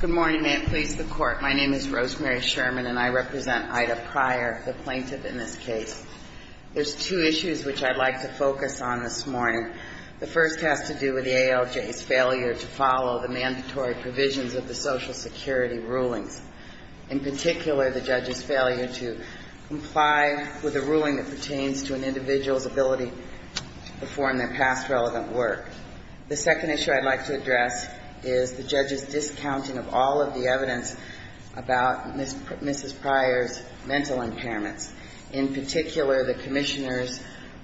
Good morning. May it please the Court, my name is Rosemary Sherman and I represent Ida Pryor, the plaintiff in this case. There's two issues which I'd like to focus on this morning. The first has to do with the ALJ's failure to follow the mandatory provisions of the Social Security rulings. In particular, the judge's failure to comply with a ruling that pertains to an individual's ability to perform their past relevant work. The second issue I'd like to address is the judge's discounting of all of the evidence about Mrs. Pryor's mental impairments. In particular, the commissioner's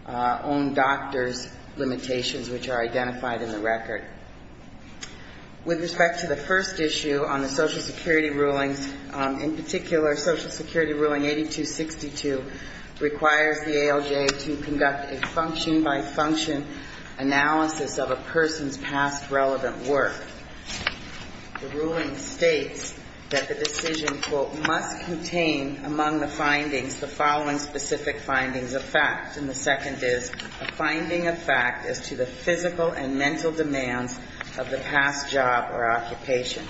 own doctor's limitations, which are identified in the record. With respect to the first issue on the Social Security rulings, in particular, Social Security ruling 8262 requires the ALJ to conduct a function-by-function analysis of a person's past relevant work. The ruling states that the decision, quote, must contain among the findings the following specific findings of fact. And the second is a finding of fact as to the physical and mental demands of the past job or occupation.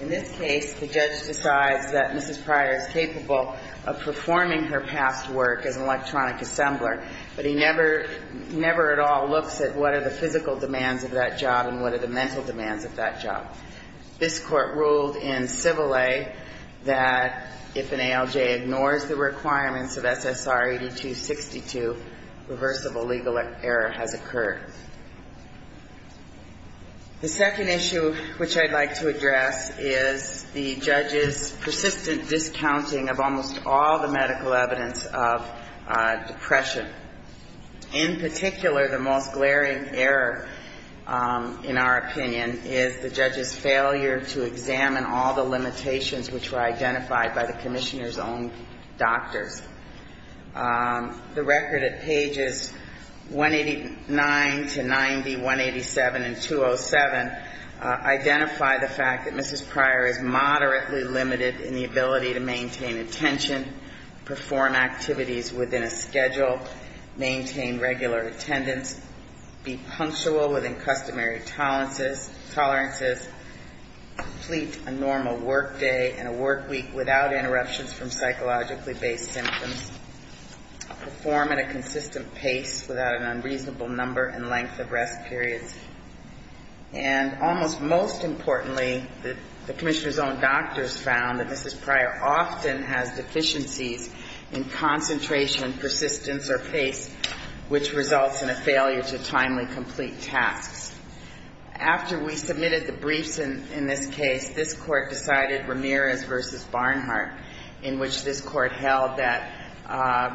In this case, the judge decides that Mrs. Pryor is capable of performing her past work as an electronic assembler, but he never, never at all looks at what are the physical demands of that job and what are the mental demands of that job. This Court ruled in Civil Lay that if an ALJ ignores the requirements of SSR 8262, reversible legal error has occurred. The second issue which I'd like to address is the judge's persistent discounting of almost all the medical evidence of depression. In particular, the most glaring error, in our opinion, is the judge's failure to examine all the limitations which were identified by the Commissioner's own doctors. The record at pages 189 to 90, 187 and 207 identify the fact that Mrs. Pryor is moderately limited in the ability to maintain attention, perform activities within a schedule, maintain regular attendance, be punctual within customary tolerances, complete a normal work day and a work week without interruptions from psychologically based symptoms, perform at a consistent pace without an unreasonable number and length of rest periods. And almost most importantly, the Commissioner's own doctors found that Mrs. Pryor often has deficiencies in concentration, persistence or pace, which results in a failure to timely complete tasks. After we submitted the briefs in this case, this Court decided Ramirez v. Barnhart, in which this Court held that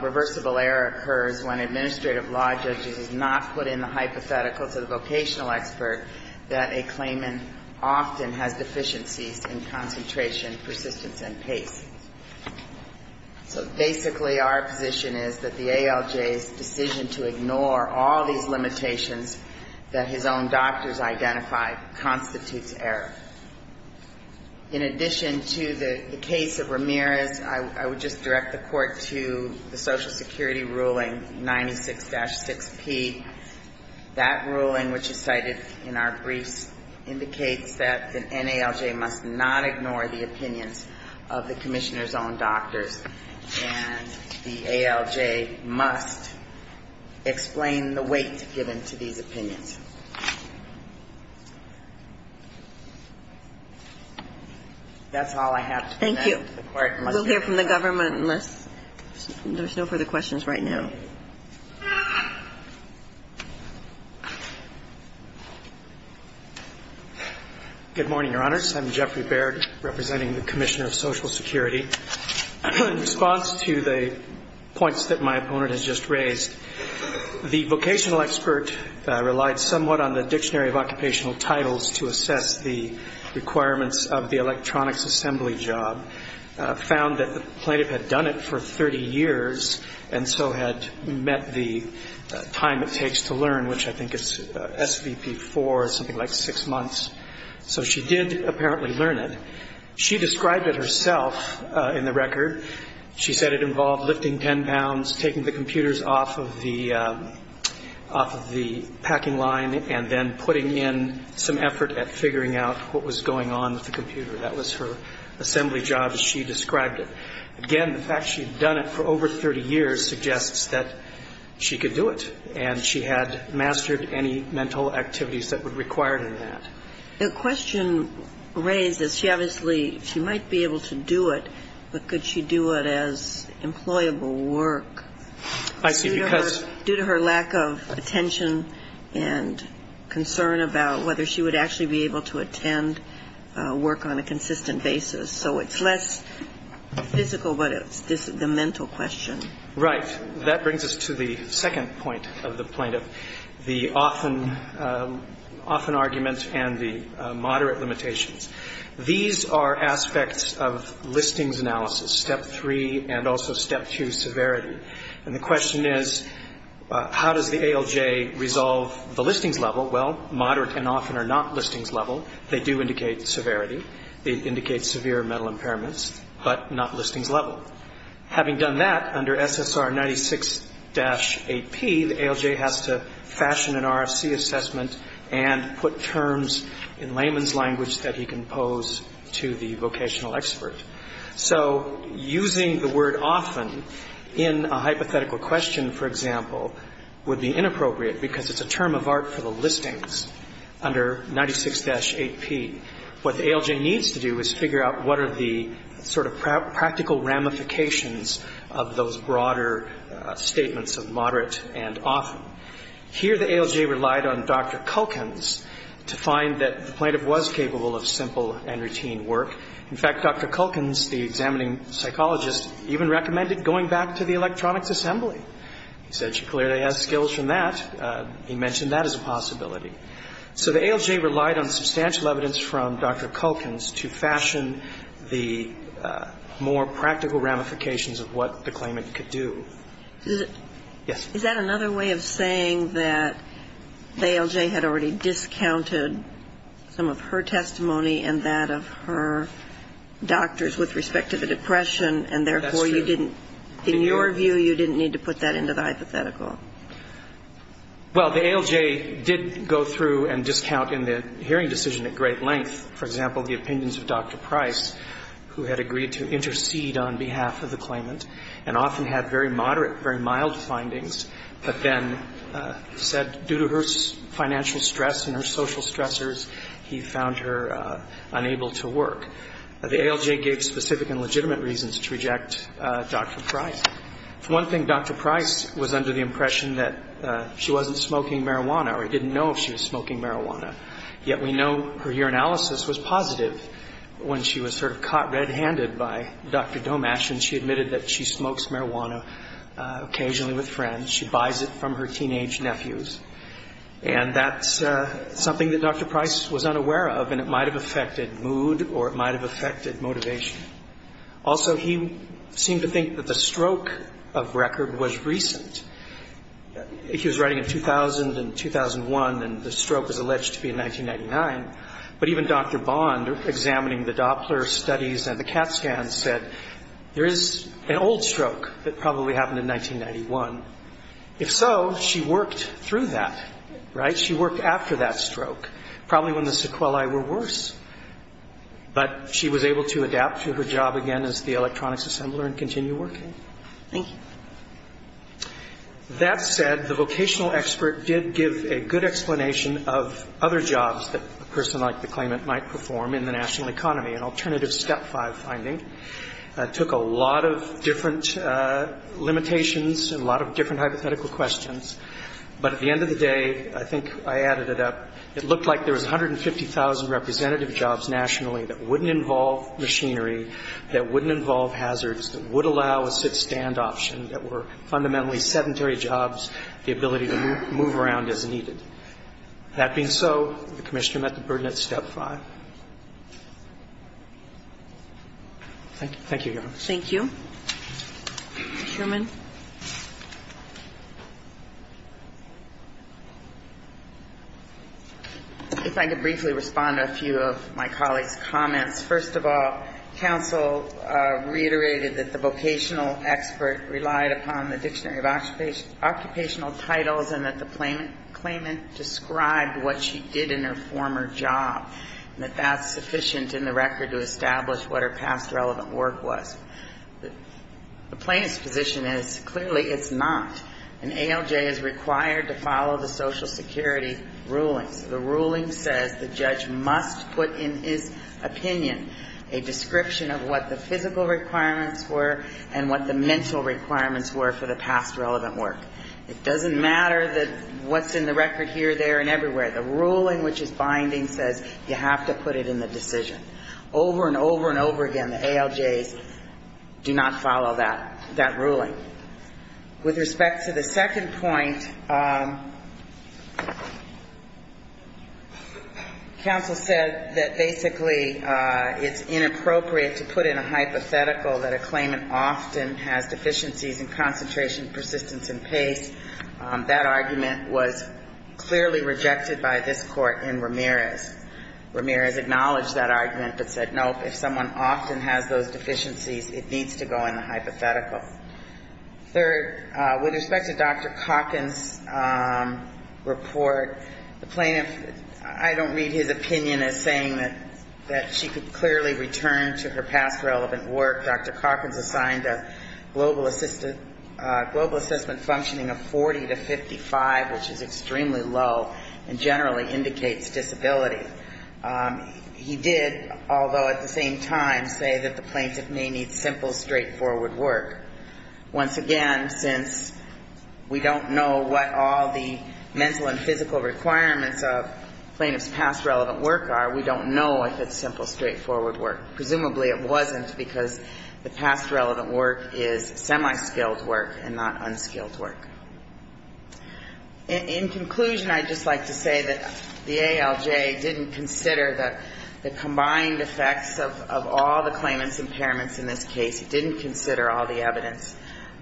reversible error occurs when an administrative law judge does not put in the hypothetical to the vocational expert, that a claimant often has deficiencies in concentration, persistence and pace. So basically our position is that the ALJ's decision to ignore all these limitations that his own doctors identified constitutes error. In addition to the case of Ramirez, I would just direct the Court to the Social Security ruling 96-6P. That ruling, which is cited in our briefs, indicates that an NALJ must not ignore the opinions of the Commissioner's own doctors, and the ALJ must explain the weight given to these opinions. That's all I have to say to the Court. We'll hear from the government unless there's no further questions right now. Good morning, Your Honors. I'm Jeffrey Baird, representing the Commissioner of Social Security. In response to the points that my opponent has just raised, the vocational expert relied somewhat on the Dictionary of Occupational Titles to assess the requirements of the electronics assembly job, found that the plaintiff had done it for 30 years, and so had met the time it takes to learn, which I think is SVP4, something like six months. So she did apparently learn it. She described it herself in the record. She said it involved lifting 10 pounds, taking the computers off of the packing line, and then putting in some effort at figuring out what was going on with the computer. That was her assembly job as she described it. Again, the fact she had done it for over 30 years suggests that she could do it, and she had mastered any mental activities that were required in that. The question raised is she obviously, she might be able to do it, but could she do it as employable work? I see. Because Due to her lack of attention and concern about whether she would actually be able to attend work on a consistent basis. So it's less physical, but it's the mental question. Right. That brings us to the second point of the plaintiff, the often argument and the moderate limitations. These are aspects of listings analysis, step three, and also step two, severity. And the question is, how does the ALJ resolve the listings level? Well, moderate and often are not listings level. They do indicate severity. They indicate severe mental impairments, but not listings level. Having done that, under SSR 96-8P, the ALJ has to fashion an RFC assessment and put terms in layman's language that he can pose to the vocational expert. So using the word often in a hypothetical question, for example, would be inappropriate because it's a term of art for the listings under 96-8P. What the ALJ needs to do is figure out what are the sort of practical ramifications of those broader statements of moderate and often. Here the ALJ relied on Dr. Culkin's to find that the plaintiff was capable of simple and routine work. In fact, Dr. Culkin's, the examining psychologist, even recommended going back to the Electronics Assembly. He said she clearly has skills from that. He mentioned that as a possibility. So the ALJ relied on substantial evidence from Dr. Culkin's to fashion the more practical ramifications of what the claimant could do. Is that another way of saying that the ALJ had already discounted some of her testimony on that of her doctors with respect to the depression and, therefore, you didn't ñ in your view, you didn't need to put that into the hypothetical? Well, the ALJ did go through and discount in the hearing decision at great length, for example, the opinions of Dr. Price, who had agreed to intercede on behalf of the claimant and often had very moderate, very mild findings, but then said due to her financial stress and her social stressors, he found her unable to work. The ALJ gave specific and legitimate reasons to reject Dr. Price. For one thing, Dr. Price was under the impression that she wasn't smoking marijuana or didn't know if she was smoking marijuana, yet we know her urinalysis was positive when she was sort of caught red-handed by Dr. Domash and she admitted that she smokes And that's something that Dr. Price was unaware of, and it might have affected mood or it might have affected motivation. Also, he seemed to think that the stroke of record was recent. He was writing in 2000 and 2001, and the stroke was alleged to be in 1999, but even Dr. Bond, examining the Doppler studies and the CAT scans, said there is an old stroke that probably happened in 1991. If so, she worked through that, right? She worked after that stroke, probably when the sequelae were worse, but she was able to adapt to her job again as the electronics assembler and continue working. That said, the vocational expert did give a good explanation of other jobs that a person like the claimant might perform in the national economy, an alternative Step 5 finding. It took a lot of different limitations and a lot of different hypothetical questions, but at the end of the day, I think I added it up. It looked like there was 150,000 representative jobs nationally that wouldn't involve machinery, that wouldn't involve hazards, that would allow a sit-stand option, that were fundamentally sedentary jobs, the ability to move around as needed. That being so, the commissioner met the burden at Step 5. Thank you, Your Honor. Thank you. Mr. Sherman. If I could briefly respond to a few of my colleagues' comments. First of all, counsel reiterated that the vocational expert relied upon the dictionary of occupational titles and that the claimant described what she did in her former job and that that's sufficient in the record to establish what her past relevant work was. The plaintiff's position is clearly it's not, and ALJ is required to follow the Social Security rulings. The ruling says the judge must put in his opinion a description of what the physical requirements were and what the mental requirements were for the past relevant work. It doesn't matter what's in the record here, there, and everywhere. The ruling which is binding says you have to put it in the decision. Over and over and over again, the ALJs do not follow that ruling. With respect to the second point, counsel said that basically it's inappropriate to put in a hypothetical that a claimant often has deficiencies in concentration, persistence, and pace. That argument was clearly rejected by this Court in Ramirez. Ramirez acknowledged that argument but said, nope, if someone often has those deficiencies, it needs to go in the hypothetical. Third, with respect to Dr. Calkins' report, the plaintiff, I don't read his opinion as saying that she could clearly return to her past relevant work. Dr. Calkins assigned a global assessment functioning of 40 to 55, which is extremely low, and generally indicates disability. He did, although at the same time say that the plaintiff may need simple, straightforward work. Once again, since we don't know what all the mental and physical requirements of plaintiff's past relevant work are, we don't know if it's simple, straightforward work. Presumably it wasn't because the past relevant work is semi-skilled work and not unskilled work. In conclusion, I'd just like to say that the ALJ didn't consider the combined effects of all the claimant's impairments in this case. It didn't consider all the evidence.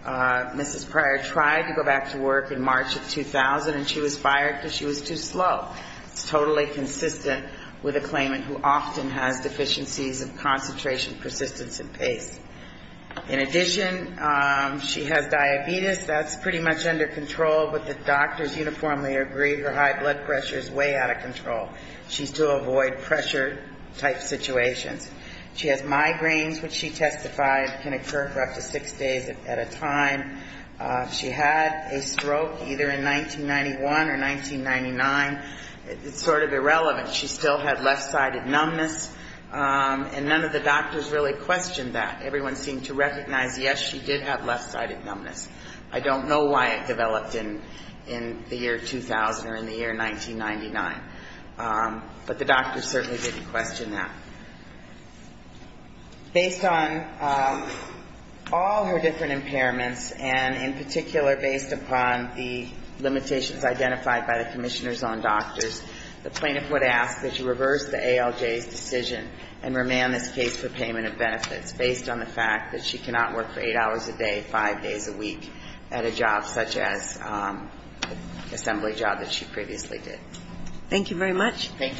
Mrs. Pryor tried to go back to work in March of 2000, and she was fired because she was too slow. It's totally consistent with a claimant who often has deficiencies of concentration, persistence and pace. In addition, she has diabetes. That's pretty much under control, but the doctors uniformly agree her high blood pressure is way out of control. She's to avoid pressure-type situations. She has migraines, which she testified can occur for up to six days at a time. She had a stroke either in 1991 or 1999. It's sort of irrelevant. She still had left-sided numbness, and none of the doctors really questioned that. Everyone seemed to recognize, yes, she did have left-sided numbness. I don't know why it developed in the year 2000 or in the year 1999. But the doctors certainly didn't question that. Based on all her different impairments, and in particular based upon the limitations identified by the commissioners on doctors, the plaintiff would ask that you reverse the ALJ's decision and remand this case for payment of benefits based on the fact that she cannot work for eight hours a day, five days a week at a job such as an assembly job that she previously did. Thank you very much. Thank you.